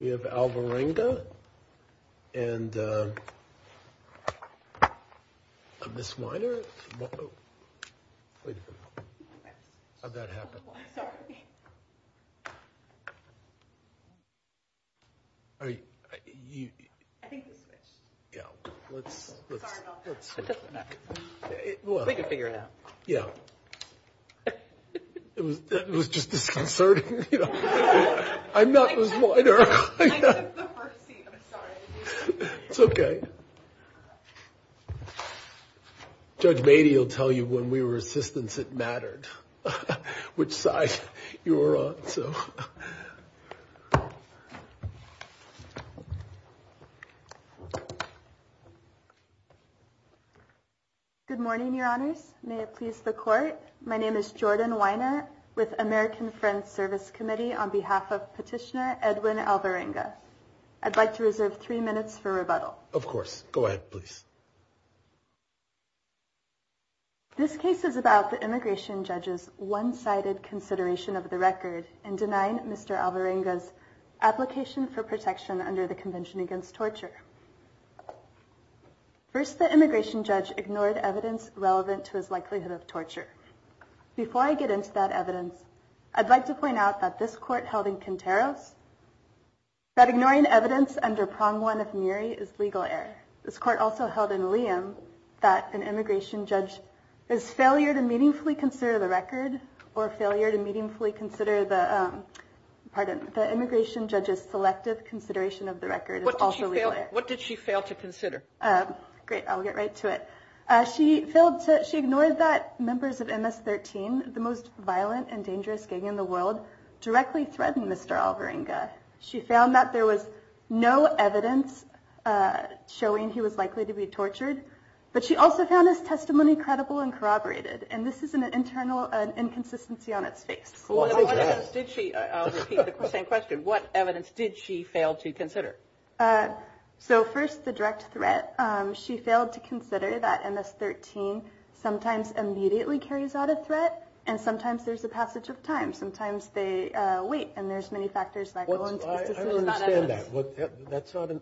We have Alvarenga, and Ms. Weiner? How'd that happen? I'm sorry. Are you? I think the switch. Yeah, let's. Sorry about that. It doesn't matter. Well. We can figure it out. Yeah. It was just disconcerting. I'm not Ms. Weiner. I took the first seat. I'm sorry. It's okay. Judge Beatty will tell you when we were assistants it mattered which side you were on. Good morning, your honors. May it please the court. My name is Jordan Weiner with American Friends Service Committee on behalf of Petitioner Edwin Alvarenga. I'd like to reserve three minutes for rebuttal. Of course. Go ahead, please. This case is about the immigration judge's one-sided consideration of the record and denying Mr. Alvarenga's application for protection under the Convention Against Torture. First, the immigration judge ignored evidence relevant to his likelihood of torture. Before I get into that evidence, I'd like to point out that this court held in Quinteros that ignoring evidence under prong one of Murie is legal error. This court also held in Liam that an immigration judge's failure to meaningfully consider the record or failure to meaningfully consider the immigration judge's selective consideration of the record is also legal error. What did she fail to consider? Great, I'll get right to it. She ignored that members of MS-13, the most violent and dangerous gang in the world, directly threatened Mr. Alvarenga. She found that there was no evidence showing he was likely to be tortured, but she also found his testimony credible and corroborated. And this is an internal inconsistency on its face. I'll repeat the same question. What evidence did she fail to consider? First, the direct threat. She failed to consider that MS-13 sometimes immediately carries out a threat, and sometimes there's a passage of time. Sometimes they wait, and there's many factors that go into this decision. I don't understand that.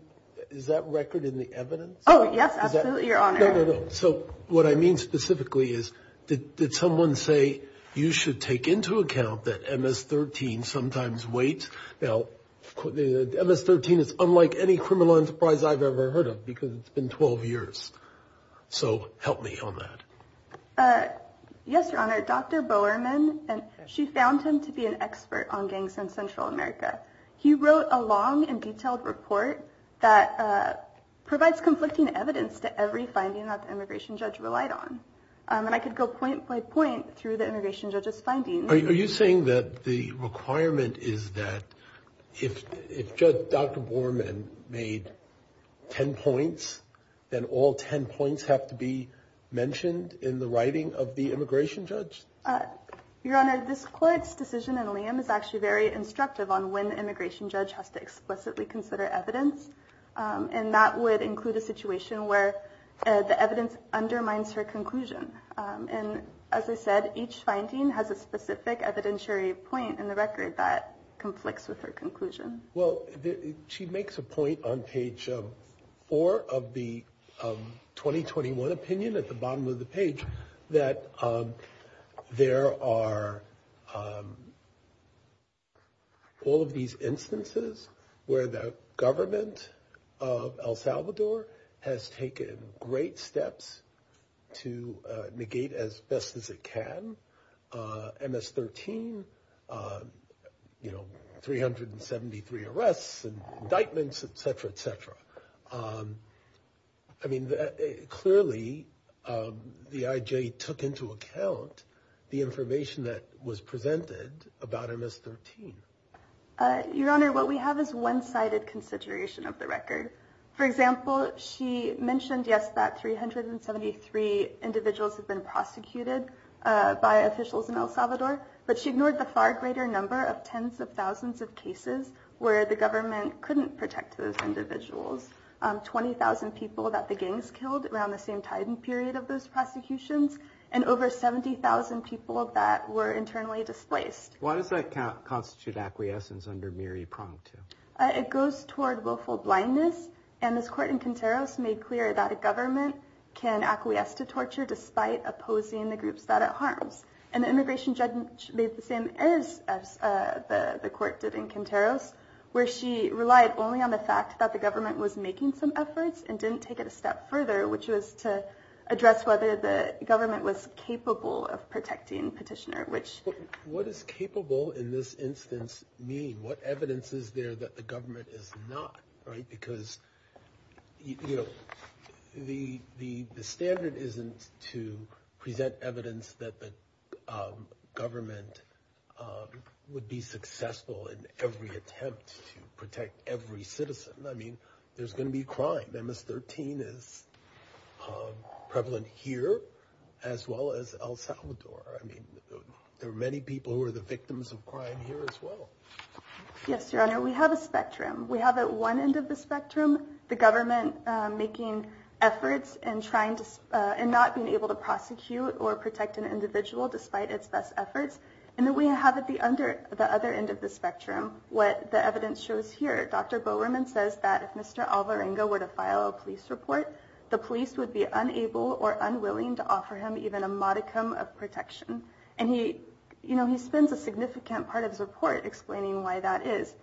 Is that record in the evidence? Yes, absolutely, Your Honor. No, no, no. So what I mean specifically is did someone say you should take into account that MS-13 sometimes waits? Now, MS-13 is unlike any criminal enterprise I've ever heard of because it's been 12 years. So help me on that. Yes, Your Honor. Dr. Bowerman, she found him to be an expert on gangs in Central America. He wrote a long and detailed report that provides conflicting evidence to every finding that the immigration judge relied on. And I could go point by point through the immigration judge's findings. Are you saying that the requirement is that if Dr. Bowerman made 10 points, then all 10 points have to be mentioned in the writing of the immigration judge? Your Honor, this court's decision in Liam is actually very instructive on when the immigration judge has to explicitly consider evidence, and that would include a situation where the evidence undermines her conclusion. And as I said, each finding has a specific evidentiary point in the record that conflicts with her conclusion. Well, she makes a point on page four of the 2021 opinion at the bottom of the page that there are all of these instances where the government of El Salvador has taken great steps to negate as best as it can. MS-13, you know, 373 arrests and indictments, et cetera, et cetera. I mean, clearly the IJ took into account the information that was presented about MS-13. Your Honor, what we have is one-sided consideration of the record. For example, she mentioned, yes, that 373 individuals have been prosecuted by officials in El Salvador, but she ignored the far greater number of tens of thousands of cases where the government couldn't protect those individuals, 20,000 people that the gangs killed around the same time period of those prosecutions, and over 70,000 people that were internally displaced. Why does that constitute acquiescence under MIRI Prong II? It goes toward willful blindness, and this court in Quinteros made clear that a government can acquiesce to torture despite opposing the groups that it harms. And the immigration judge made the same errors as the court did in Quinteros, where she relied only on the fact that the government was making some efforts and didn't take it a step further, which was to address whether the government was capable of protecting Petitioner. What does capable in this instance mean? What evidence is there that the government is not? Because the standard isn't to present evidence that the government would be successful in every attempt to protect every citizen. I mean, there's going to be crime. MS-13 is prevalent here as well as El Salvador. I mean, there are many people who are the victims of crime here as well. Yes, Your Honor, we have a spectrum. We have at one end of the spectrum the government making efforts and not being able to prosecute or protect an individual despite its best efforts. And then we have at the other end of the spectrum what the evidence shows here. Dr. Bowerman says that if Mr. Alvarenga were to file a police report, the police would be unable or unwilling to offer him even a modicum of protection. And he spends a significant part of his report explaining why that is.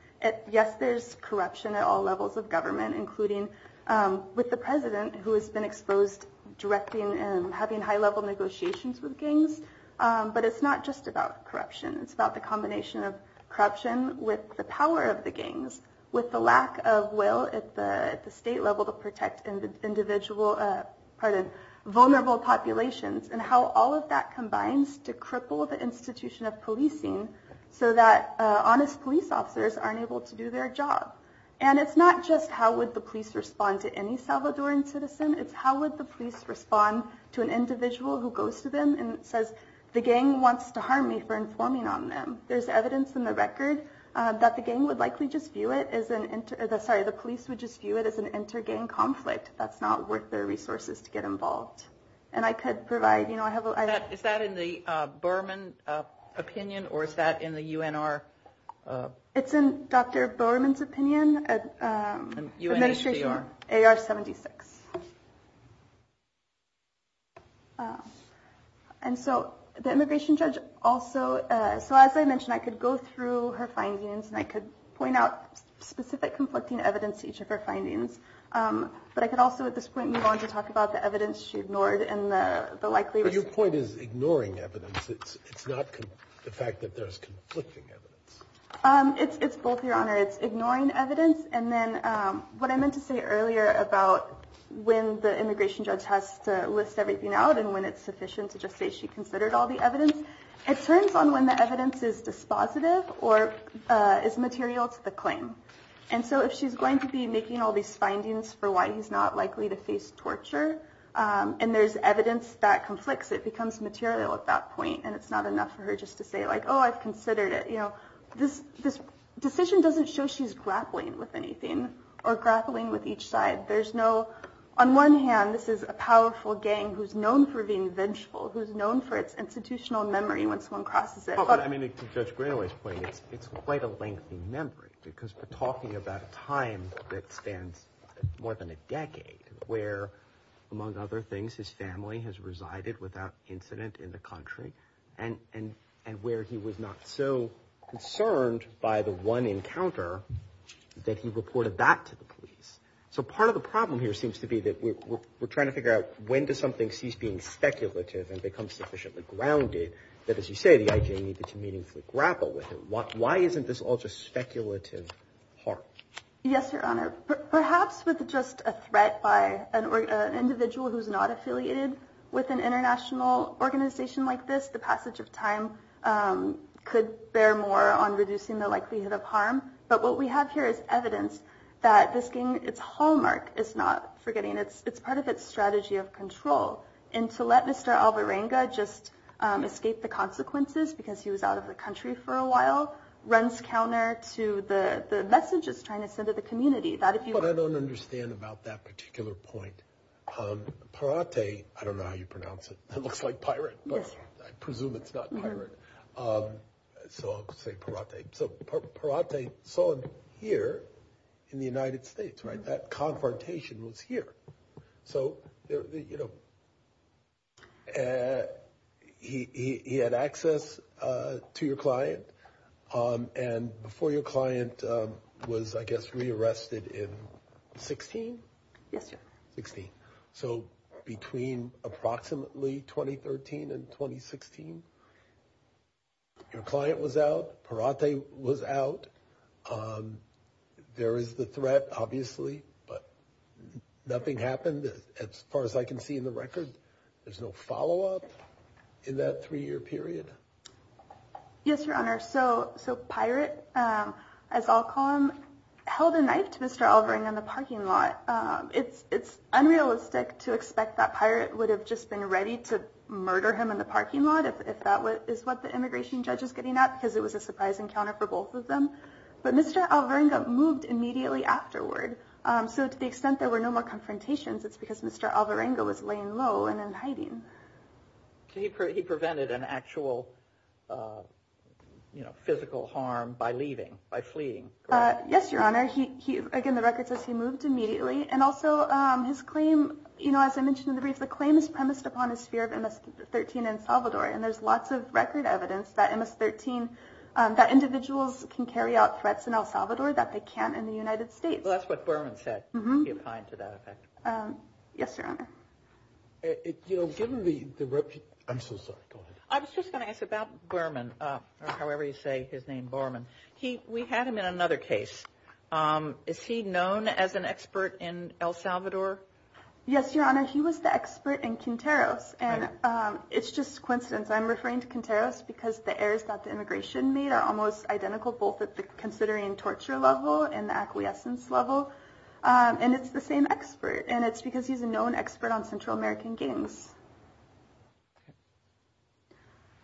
Yes, there's corruption at all levels of government, including with the president, who has been exposed directing and having high-level negotiations with gangs. But it's not just about corruption. It's about the combination of corruption with the power of the gangs, with the lack of will at the state level to protect vulnerable populations, and how all of that combines to cripple the institution of policing so that honest police officers aren't able to do their job. And it's not just how would the police respond to any Salvadoran citizen. It's how would the police respond to an individual who goes to them and says, the gang wants to harm me for informing on them. There's evidence in the record that the police would just view it as an inter-gang conflict. That's not worth their resources to get involved. And I could provide. Is that in the Bowerman opinion, or is that in the UNR? It's in Dr. Bowerman's opinion. UNHCR. AR-76. And so the immigration judge also. So as I mentioned, I could go through her findings and I could point out specific conflicting evidence to each of her findings. But I could also at this point move on to talk about the evidence she ignored and the likelihood. Your point is ignoring evidence. It's not the fact that there's conflicting evidence. It's both, Your Honor. It's ignoring evidence. And then what I meant to say earlier about when the immigration judge has to list everything out and when it's sufficient to just say she considered all the evidence. It turns on when the evidence is dispositive or is material to the claim. And so if she's going to be making all these findings for why he's not likely to face torture and there's evidence that conflicts, it becomes material at that point. And it's not enough for her just to say, like, oh, I've considered it. You know, this this decision doesn't show she's grappling with anything or grappling with each side. There's no on one hand. This is a powerful gang who's known for being vengeful, who's known for its institutional memory. Once one crosses it. I mean, it's just really it's quite a lengthy memory because we're talking about a time that stands more than a decade where, among other things, his family has resided without incident in the country. And and and where he was not so concerned by the one encounter that he reported back to the police. So part of the problem here seems to be that we're trying to figure out when does something cease being speculative and become sufficiently grounded that, as you say, the I.J. needed to meaningfully grapple with it. Why isn't this all just speculative part? Yes, Your Honor, perhaps with just a threat by an individual who's not affiliated with an international organization like this, the passage of time could bear more on reducing the likelihood of harm. But what we have here is evidence that this gang, its hallmark is not forgetting. It's part of its strategy of control. And to let Mr. Alvarenga just escape the consequences because he was out of the country for a while runs counter to the messages trying to send to the community that if you. But I don't understand about that particular point. Parate, I don't know how you pronounce it. It looks like pirate. I presume it's not pirate. So I'll say Parate. So Parate saw him here in the United States. Right. That confrontation was here. So, you know. He had access to your client and before your client was, I guess, rearrested in 16. Yes. 16. So between approximately 2013 and 2016. Your client was out. Parate was out. There is the threat, obviously, but nothing happened as far as I can see in the record. There's no follow up in that three year period. Yes, your honor. So so Parate, as I'll call him, held a knife to Mr. Alvarenga in the parking lot. It's unrealistic to expect that Parate would have just been ready to murder him in the parking lot. If that is what the immigration judge is getting at, because it was a surprise encounter for both of them. But Mr. Alvarenga moved immediately afterward. So to the extent there were no more confrontations, it's because Mr. Alvarenga was laying low and in hiding. He prevented an actual physical harm by leaving, by fleeing. Yes, your honor. Again, the record says he moved immediately. And also his claim, you know, as I mentioned in the brief, the claim is premised upon his fear of MS-13 in Salvador. And there's lots of record evidence that MS-13, that individuals can carry out threats in El Salvador that they can't in the United States. Well, that's what Borman said. He opined to that effect. Yes, your honor. You know, given the, I'm so sorry, go ahead. I was just going to ask about Borman, or however you say his name, Borman. We had him in another case. Is he known as an expert in El Salvador? Yes, your honor. He was the expert in Quinteros. And it's just coincidence. I'm referring to Quinteros because the errors that the immigration made are almost identical, both at the considering torture level and the acquiescence level. And it's the same expert. And it's because he's a known expert on Central American gangs.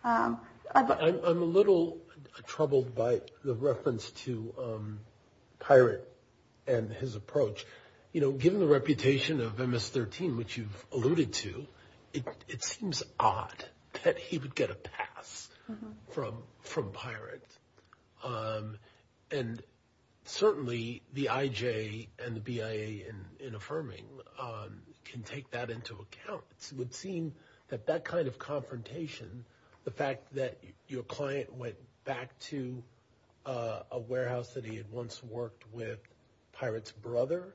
I'm a little troubled by the reference to Pirate and his approach. You know, given the reputation of MS-13, which you've alluded to, it seems odd that he would get a pass from Pirate. And certainly the IJ and the BIA in affirming can take that into account. It would seem that that kind of confrontation, the fact that your client went back to a warehouse that he had once worked with Pirate's brother,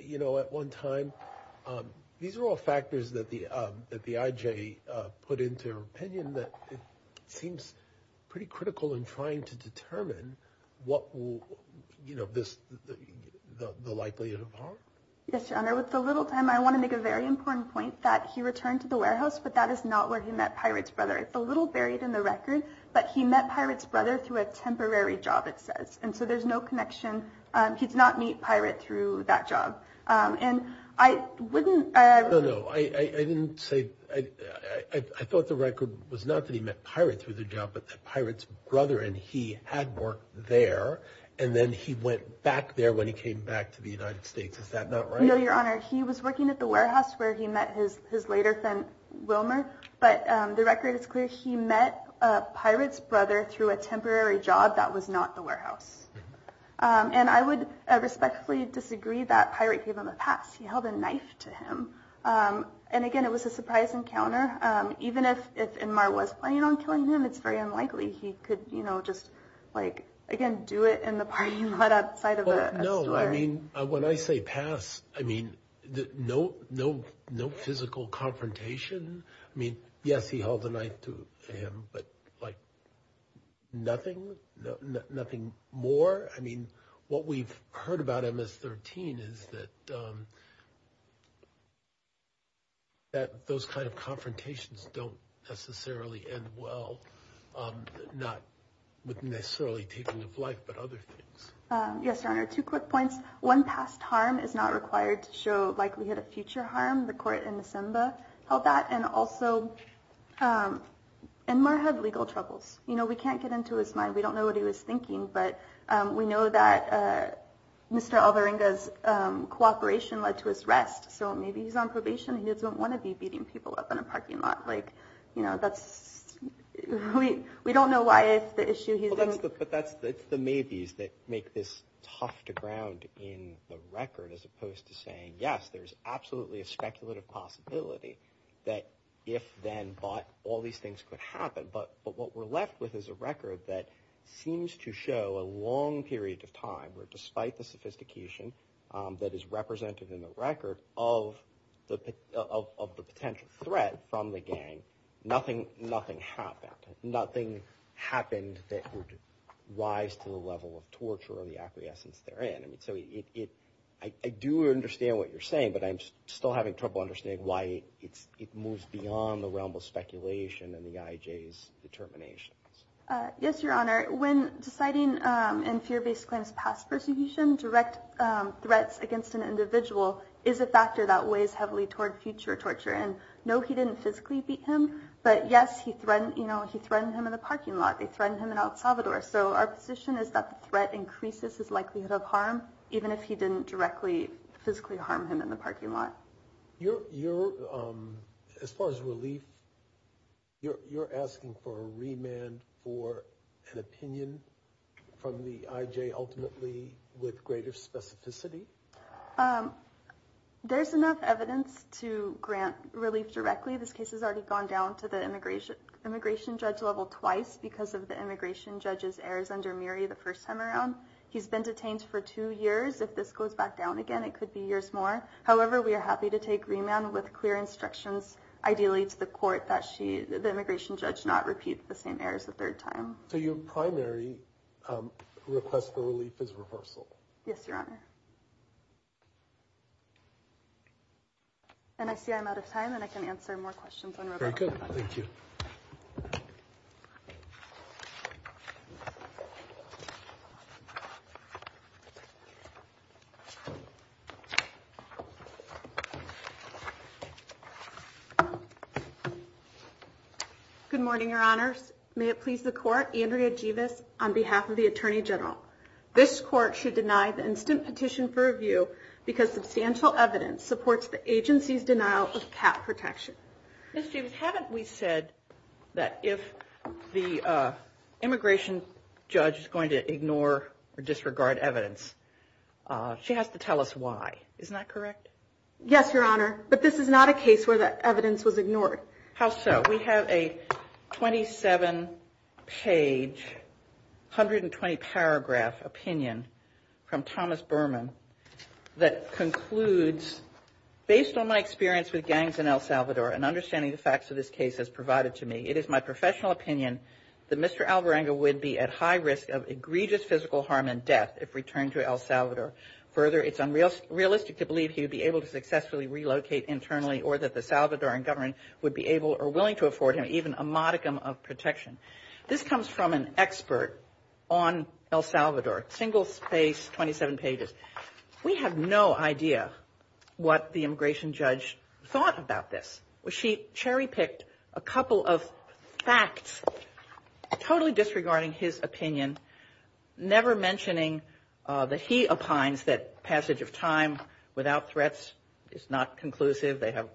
you know, at one time, these are all factors that the IJ put into her opinion that it seems pretty critical in trying to determine what will, you know, the likelihood of harm. Yes, your honor. With the little time, I want to make a very important point that he returned to the warehouse, but that is not where he met Pirate's brother. It's a little buried in the record, but he met Pirate's brother through a temporary job, it says. And so there's no connection. He did not meet Pirate through that job. And I wouldn't... No, no, I didn't say... I thought the record was not that he met Pirate through the job, but that Pirate's brother and he had worked there. And then he went back there when he came back to the United States. Is that not right? No, your honor. He was working at the warehouse where he met his later friend Wilmer. But the record is clear. He met Pirate's brother through a temporary job that was not the warehouse. And I would respectfully disagree that Pirate gave him a pass. He held a knife to him. And again, it was a surprise encounter. Even if Inmar was planning on killing him, it's very unlikely he could, you know, just, like, again, do it in the parking lot outside of a store. No, I mean, when I say pass, I mean, no physical confrontation. I mean, yes, he held a knife to him, but like nothing, nothing more. I mean, what we've heard about MS-13 is that those kind of confrontations don't necessarily end well, not necessarily taking of life, but other things. Yes, your honor. Two quick points. One, past harm is not required to show likelihood of future harm. The court in December held that. And also, Inmar had legal troubles. You know, we can't get into his mind. We don't know what he was thinking. But we know that Mr. Alvarenga's cooperation led to his arrest. So maybe he's on probation. He doesn't want to be beating people up in a parking lot. Like, you know, that's, we don't know why the issue he's in. But that's the maybes that make this tough to ground in the record as opposed to saying, yes, there's absolutely a speculative possibility that if then, but, all these things could happen. But what we're left with is a record that seems to show a long period of time where despite the sophistication that is represented in the record of the potential threat from the gang, nothing happened. Nothing happened that would rise to the level of torture or the acquiescence therein. So I do understand what you're saying, but I'm still having trouble understanding why it moves beyond the realm of speculation and the IJ's determinations. Yes, your honor. When deciding in fear-based claims past persecution, direct threats against an individual is a factor that weighs heavily toward future torture. And no, he didn't physically beat him. But yes, he threatened him in the parking lot. They threatened him in El Salvador. So our position is that the threat increases his likelihood of harm, even if he didn't directly physically harm him in the parking lot. As far as relief, you're asking for a remand for an opinion from the IJ ultimately with greater specificity? There's enough evidence to grant relief directly. This case has already gone down to the immigration judge level twice because of the immigration judge's errors under Miri the first time around. He's been detained for two years. If this goes back down again, it could be years more. However, we are happy to take remand with clear instructions, ideally to the court, that the immigration judge not repeat the same errors a third time. So your primary request for relief is reversal? Yes, your honor. And I see I'm out of time and I can answer more questions. Thank you. Good morning, your honors. May it please the court. Andrea Jeevis on behalf of the attorney general. This court should deny the instant petition for review because substantial evidence supports the agency's denial of cat protection. Ms. Jeevis, haven't we said that if the immigration judge is going to ignore or disregard evidence, she has to tell us why. Isn't that correct? Yes, your honor. But this is not a case where the evidence was ignored. How so? We have a 27-page, 120-paragraph opinion from Thomas Berman that concludes, based on my experience with gangs in El Salvador and understanding the facts of this case has provided to me, it is my professional opinion that Mr. Alvarenga would be at high risk of egregious physical harm and death if returned to El Salvador. Further, it's unrealistic to believe he would be able to successfully relocate internally or that the Salvadoran government would be able or willing to afford him even a modicum of protection. This comes from an expert on El Salvador, single-spaced, 27 pages. We have no idea what the immigration judge thought about this. She cherry-picked a couple of facts totally disregarding his opinion, never mentioning that he opines that passage of time without threats is not conclusive. They have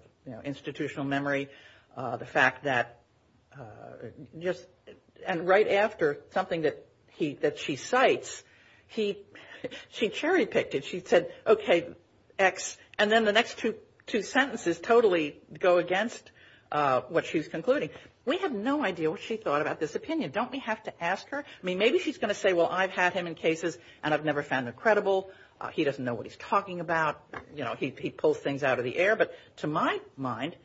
institutional memory. The fact that just right after something that she cites, she cherry-picked it. She said, okay, X, and then the next two sentences totally go against what she's concluding. We have no idea what she thought about this opinion. Don't we have to ask her? I mean, maybe she's going to say, well, I've had him in cases and I've never found them credible. He doesn't know what he's talking about. You know, he pulls things out of the air. But to my mind,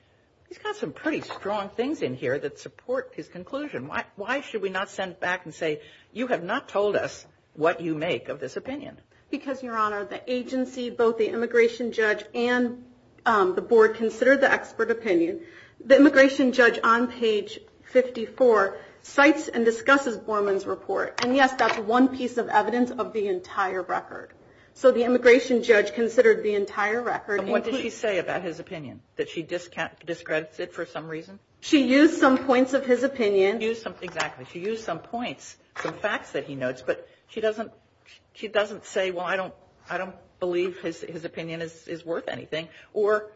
he's got some pretty strong things in here that support his conclusion. Why should we not send back and say, you have not told us what you make of this opinion? Because, Your Honor, the agency, both the immigration judge and the board, consider the expert opinion. The immigration judge on page 54 cites and discusses Borman's report. And, yes, that's one piece of evidence of the entire record. So the immigration judge considered the entire record. And what did she say about his opinion, that she discredits it for some reason? She used some points of his opinion. Exactly. She used some points, some facts that he notes. But she doesn't say, well, I don't believe his opinion is worth anything. Or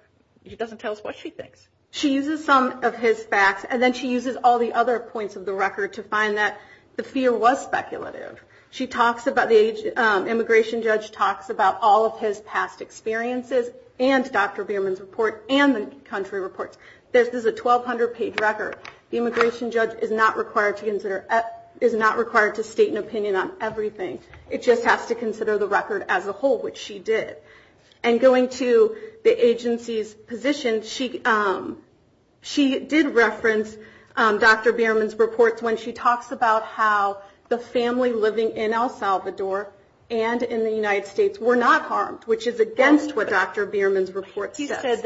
she doesn't tell us what she thinks. She uses some of his facts. And then she uses all the other points of the record to find that the fear was speculative. The immigration judge talks about all of his past experiences and Dr. Borman's report and the country reports. This is a 1,200-page record. The immigration judge is not required to state an opinion on everything. It just has to consider the record as a whole, which she did. And going to the agency's position, she did reference Dr. Borman's report when she talks about how the family living in El Salvador and in the United States were not harmed, which is against what Dr. Borman's report says. She said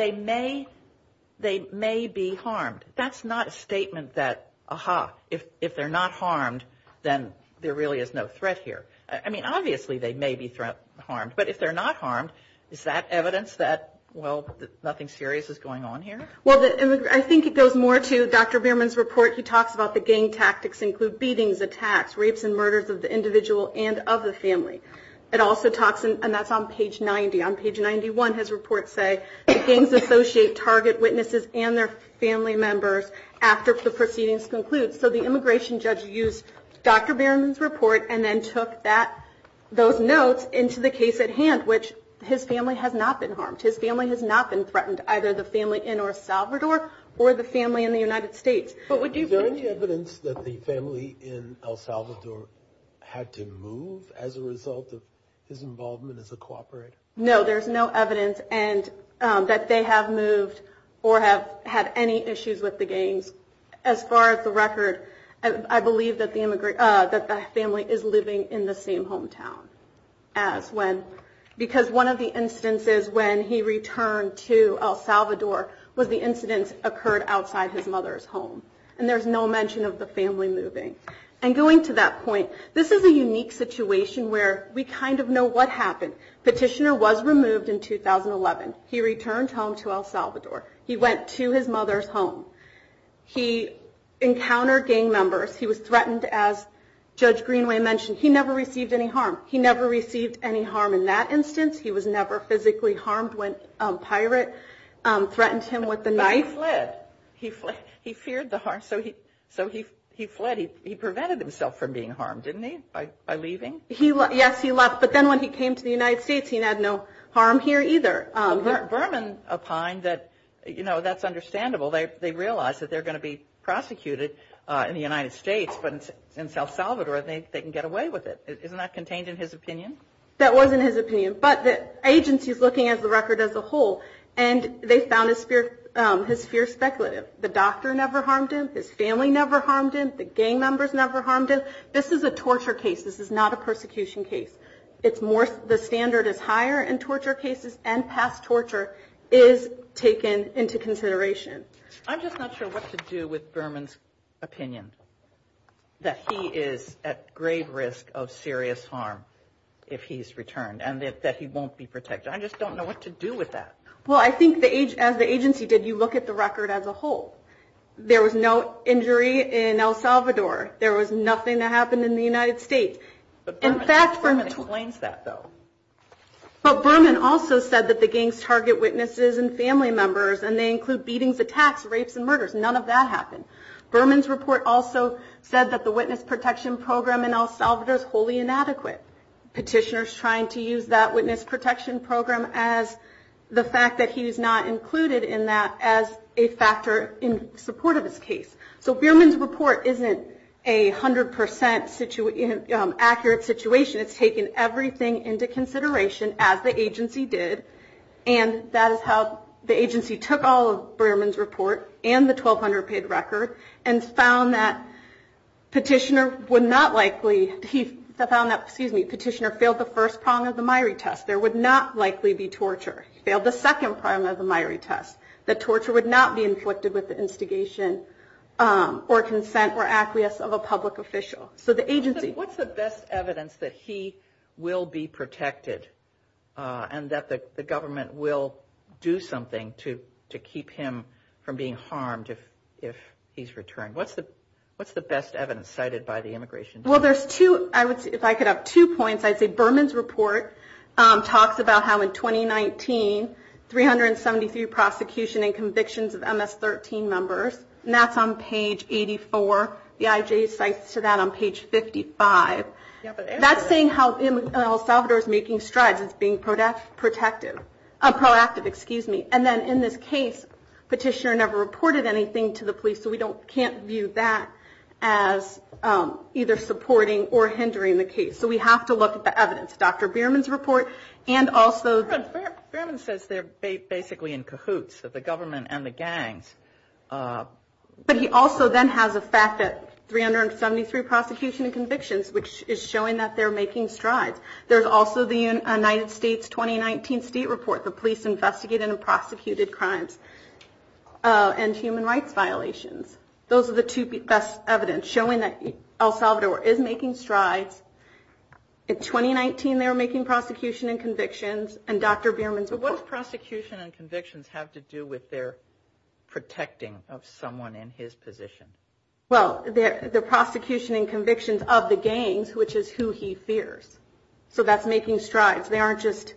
they may be harmed. That's not a statement that, aha, if they're not harmed, then there really is no threat here. I mean, obviously they may be harmed. But if they're not harmed, is that evidence that, well, nothing serious is going on here? Well, I think it goes more to Dr. Borman's report. He talks about the gang tactics include beatings, attacks, rapes, and murders of the individual and of the family. It also talks, and that's on page 90. On page 91, his reports say the gangs associate target witnesses and their family members after the proceedings conclude. So the immigration judge used Dr. Borman's report and then took those notes into the case at hand, which his family has not been harmed. His family has not been threatened, either the family in El Salvador or the family in the United States. Is there any evidence that the family in El Salvador had to move as a result of his involvement as a cooperator? No, there's no evidence that they have moved or have had any issues with the gangs. As far as the record, I believe that the family is living in the same hometown. Because one of the instances when he returned to El Salvador was the incidents occurred outside his mother's home. And there's no mention of the family moving. And going to that point, this is a unique situation where we kind of know what happened. Petitioner was removed in 2011. He returned home to El Salvador. He went to his mother's home. He encountered gang members. He was threatened, as Judge Greenway mentioned. He never received any harm. He never received any harm in that instance. He was never physically harmed when a pirate threatened him with a knife. But he fled. He feared the harm, so he fled. He prevented himself from being harmed, didn't he, by leaving? Yes, he left. But then when he came to the United States, he had no harm here, either. Berman opined that, you know, that's understandable. They realize that they're going to be prosecuted in the United States. But in El Salvador, they can get away with it. Isn't that contained in his opinion? That was in his opinion. But the agency is looking at the record as a whole, and they found his fear speculative. The doctor never harmed him. His family never harmed him. The gang members never harmed him. This is a torture case. This is not a persecution case. The standard is higher in torture cases, and past torture is taken into consideration. I'm just not sure what to do with Berman's opinion, that he is at grave risk of serious harm if he's returned and that he won't be protected. I just don't know what to do with that. Well, I think as the agency did, you look at the record as a whole. There was no injury in El Salvador. There was nothing that happened in the United States. But Berman explains that, though. But Berman also said that the gangs target witnesses and family members, and they include beatings, attacks, rapes, and murders. None of that happened. Berman's report also said that the witness protection program in El Salvador is wholly inadequate. Petitioner is trying to use that witness protection program as the fact that he is not included in that as a factor in support of his case. So Berman's report isn't a 100% accurate situation. It's taken everything into consideration, as the agency did, and that is how the agency took all of Berman's report and the 1,200-page record and found that Petitioner failed the first prong of the Myrie test. There would not likely be torture. He failed the second prong of the Myrie test. The torture would not be inflicted with the instigation or consent or acquiescence of a public official. So the agency- What's the best evidence that he will be protected and that the government will do something to keep him from being harmed if he's returned? What's the best evidence cited by the immigration department? Well, there's two. If I could have two points, I'd say Berman's report talks about how in 2019, 373 prosecution and convictions of MS-13 members, and that's on page 84. The IJ cites to that on page 55. That's saying how El Salvador is making strides as being proactive. And then in this case, Petitioner never reported anything to the police, so we can't view that as either supporting or hindering the case. So we have to look at the evidence. Dr. Berman's report and also- Berman says they're basically in cahoots, the government and the gangs. But he also then has a fact that 373 prosecution and convictions, which is showing that they're making strides. There's also the United States 2019 state report, the police investigated and prosecuted crimes and human rights violations. Those are the two best evidence showing that El Salvador is making strides. In 2019, they were making prosecution and convictions. And Dr. Berman's- But what does prosecution and convictions have to do with their protecting of someone in his position? Well, the prosecution and convictions of the gangs, which is who he fears. So that's making strides. They aren't just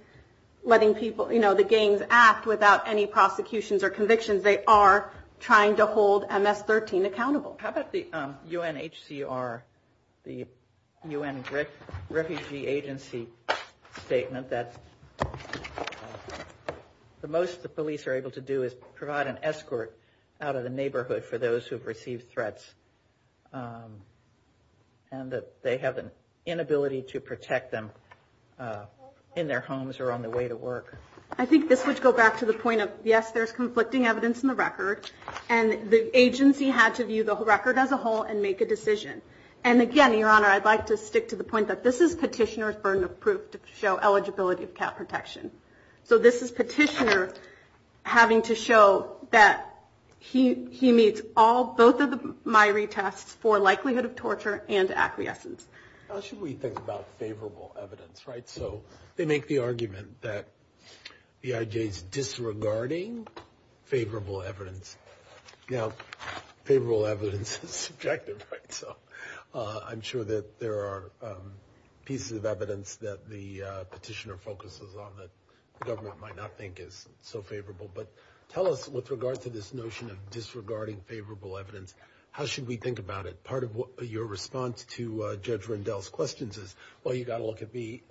letting people, you know, the gangs act without any prosecutions or convictions. They are trying to hold MS-13 accountable. How about the UNHCR, the UN Refugee Agency statement that the most the police are able to do is provide an escort out of the neighborhood for those who've received threats and that they have an inability to protect them in their homes or on the way to work? I think this would go back to the point of, yes, there's conflicting evidence in the record. And the agency had to view the record as a whole and make a decision. And again, Your Honor, I'd like to stick to the point that this is petitioner's burden of proof to show eligibility for protection. So this is petitioner having to show that he meets all both of my retests for likelihood of torture and acquiescence. How should we think about favorable evidence? So they make the argument that the IJ is disregarding favorable evidence. Now, favorable evidence is subjective. So I'm sure that there are pieces of evidence that the petitioner focuses on that the government might not think is so favorable. But tell us, with regard to this notion of disregarding favorable evidence, how should we think about it? Part of your response to Judge Rendell's questions is, well, you've got to look at the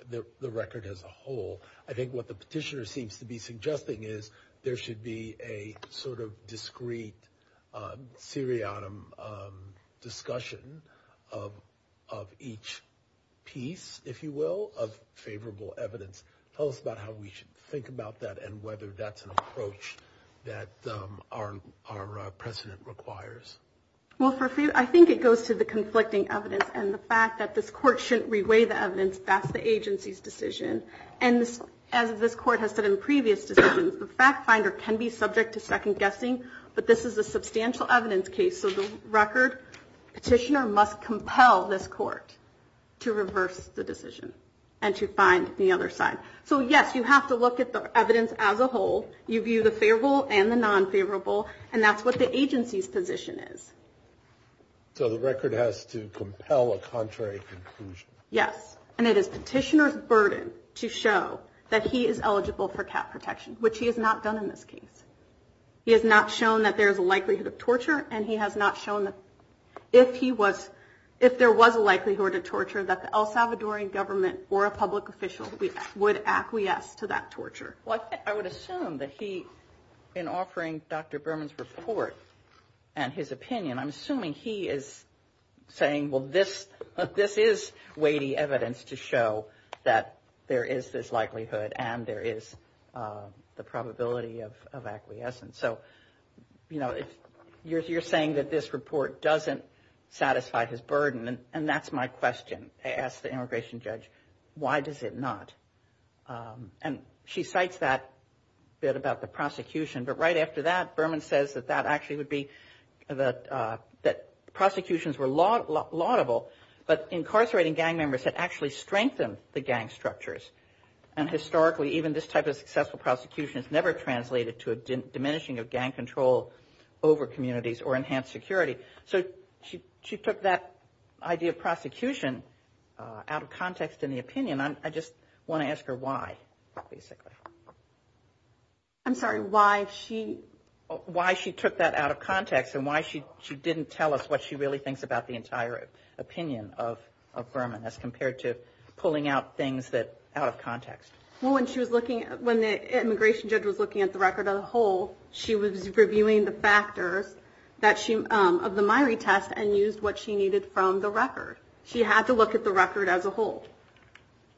record as a whole. I think what the petitioner seems to be suggesting is there should be a sort of discreet, seriatim discussion of each piece, if you will, of favorable evidence. Tell us about how we should think about that and whether that's an approach that our precedent requires. Well, I think it goes to the conflicting evidence and the fact that this court shouldn't reweigh the evidence. That's the agency's decision. And as this court has said in previous decisions, the fact finder can be subject to second guessing, but this is a substantial evidence case. So the record petitioner must compel this court to reverse the decision and to find the other side. So, yes, you have to look at the evidence as a whole. You view the favorable and the non-favorable, and that's what the agency's position is. So the record has to compel a contrary conclusion. Yes. And it is petitioner's burden to show that he is eligible for cap protection, which he has not done in this case. He has not shown that there is a likelihood of torture, and he has not shown that if there was a likelihood of torture, that the El Salvadorian government or a public official would acquiesce to that torture. Well, I would assume that he, in offering Dr. Berman's report and his opinion, I'm assuming he is saying, well, this is weighty evidence to show that there is this likelihood and there is the probability of acquiescence. So, you know, you're saying that this report doesn't satisfy his burden, and that's my question. I asked the immigration judge, why does it not? And she cites that bit about the prosecution, but right after that, Berman says that that actually would be that prosecutions were laudable, but incarcerating gang members had actually strengthened the gang structures. And historically, even this type of successful prosecution has never translated to a diminishing of gang control over communities or enhanced security. So she took that idea of prosecution out of context in the opinion. I just want to ask her why, basically. I'm sorry, why she took that out of context and why she didn't tell us what she really thinks about the entire opinion of Berman as compared to pulling out things out of context. Well, when the immigration judge was looking at the record as a whole, she was reviewing the factors of the Myrie test and used what she needed from the record. She had to look at the record as a whole.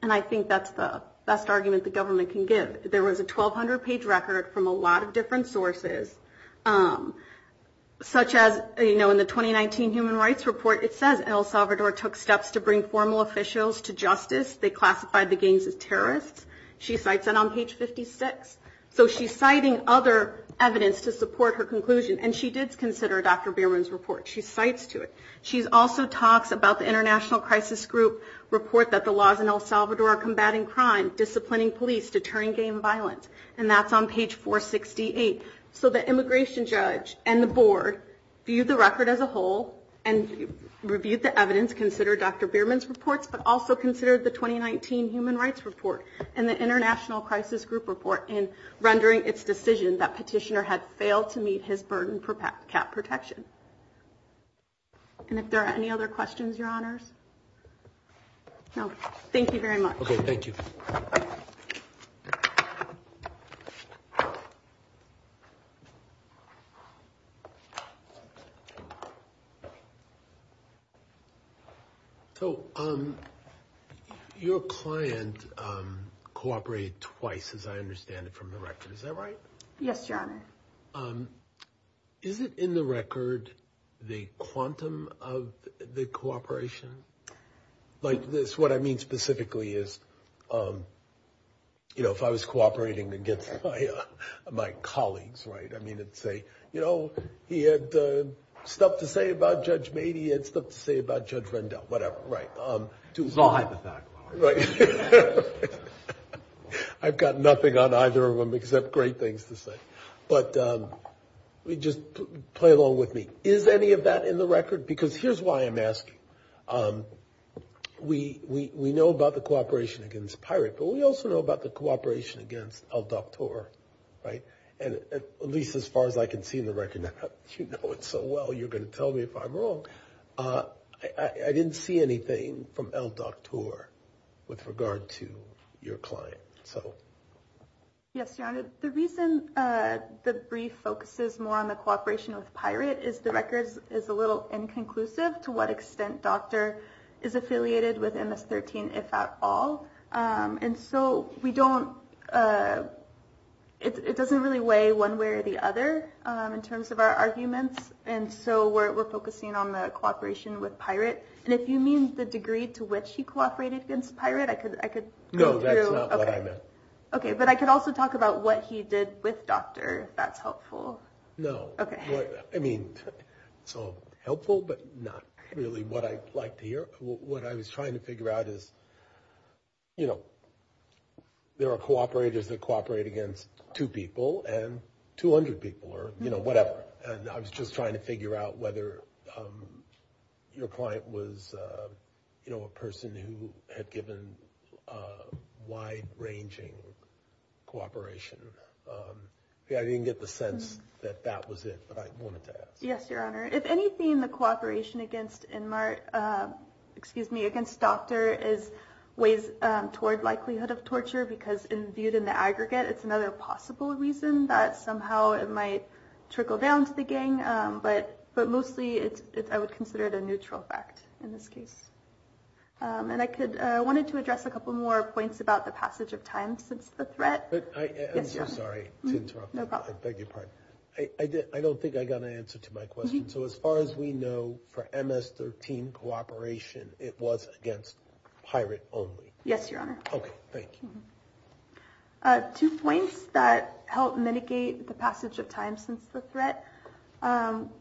And I think that's the best argument the government can give. There was a 1,200-page record from a lot of different sources, such as, you know, in the 2019 Human Rights Report, it says El Salvador took steps to bring formal officials to justice. They classified the gangs as terrorists. She cites that on page 56. So she's citing other evidence to support her conclusion, and she did consider Dr. Berman's report. She cites to it. She also talks about the International Crisis Group report that the laws in El Salvador are combating crime, disciplining police, deterring gang violence. And that's on page 468. So the immigration judge and the board viewed the record as a whole and reviewed the evidence, considered Dr. Berman's reports, but also considered the 2019 Human Rights Report and the International Crisis Group report in rendering its decision that Petitioner had failed to meet his burden for cat protection. And if there are any other questions, Your Honors? No. Thank you very much. Okay. Thank you. So your client cooperated twice, as I understand it, from the record. Is that right? Yes, Your Honor. Is it in the record the quantum of the cooperation? Like this, what I mean specifically is, you know, if I was cooperating against my colleagues, right, I mean, let's say, you know, he had stuff to say about Judge Mady, he had stuff to say about Judge Rendell, whatever. Right. I'll hide the fact. Right. I've got nothing on either of them except great things to say. But just play along with me. Is any of that in the record? Because here's why I'm asking. We know about the cooperation against Pirate, but we also know about the cooperation against El Doctor, right? And at least as far as I can see in the record, you know it so well, you're going to tell me if I'm wrong. I didn't see anything from El Doctor with regard to your client. So. Yes, Your Honor. The reason the brief focuses more on the cooperation with Pirate is the record is a little inconclusive, to what extent Doctor is affiliated with MS-13, if at all. And so we don't, it doesn't really weigh one way or the other in terms of our arguments. And so we're focusing on the cooperation with Pirate. And if you mean the degree to which he cooperated against Pirate, I could go through. No, that's not what I meant. Okay, but I could also talk about what he did with Doctor, if that's helpful. No. Okay. I mean, it's all helpful, but not really what I'd like to hear. What I was trying to figure out is, you know, there are cooperators that cooperate against two people and 200 people, or, you know, whatever. And I was just trying to figure out whether your client was, you know, a person who had given wide-ranging cooperation. I didn't get the sense that that was it, but I wanted to ask. Yes, Your Honor. If anything, the cooperation against Inmart, excuse me, against Doctor is ways toward likelihood of torture, because viewed in the aggregate, it's another possible reason that somehow it might trickle down to the gang. But mostly, I would consider it a neutral fact in this case. And I wanted to address a couple more points about the passage of time since the threat. I'm so sorry to interrupt. No problem. I beg your pardon. I don't think I got an answer to my question. So as far as we know, for MS-13 cooperation, it was against Pirate only. Yes, Your Honor. Okay. Thank you. Two points that help mitigate the passage of time since the threat.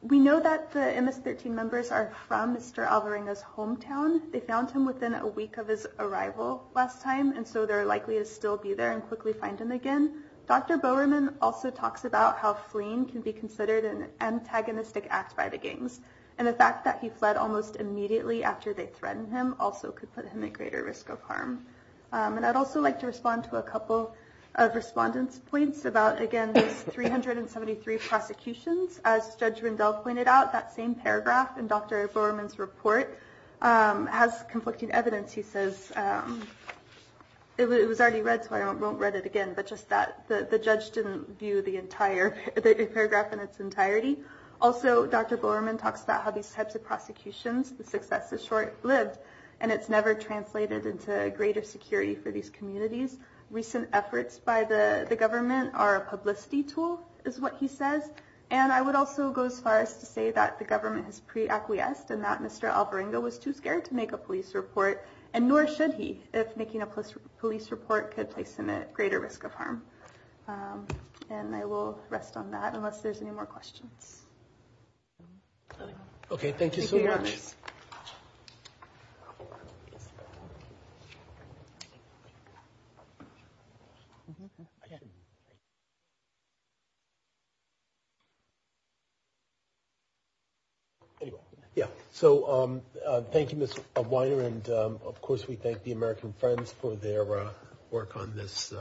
We know that the MS-13 members are from Mr. Alvarenga's hometown. They found him within a week of his arrival last time, and so they're likely to still be there and quickly find him again. Dr. Bowerman also talks about how fleeing can be considered an antagonistic act by the gangs. And the fact that he fled almost immediately after they threatened him also could put him at greater risk of harm. And I'd also like to respond to a couple of respondents' points about, again, these 373 prosecutions. As Judge Rindell pointed out, that same paragraph in Dr. Bowerman's report has conflicting evidence. He says it was already read, so I won't read it again, but just that the judge didn't view the entire paragraph in its entirety. Also, Dr. Bowerman talks about how these types of prosecutions, the success is short-lived, and it's never translated into greater security for these communities. Recent efforts by the government are a publicity tool, is what he says. And I would also go as far as to say that the government has pre-acquiesced and that Mr. Alvarenga was too scared to make a police report, and nor should he if making a police report could place him at greater risk of harm. And I will rest on that unless there's any more questions. Okay, thank you so much. So thank you, Ms. Weiner, and, of course, we thank the American Friends for their work on this.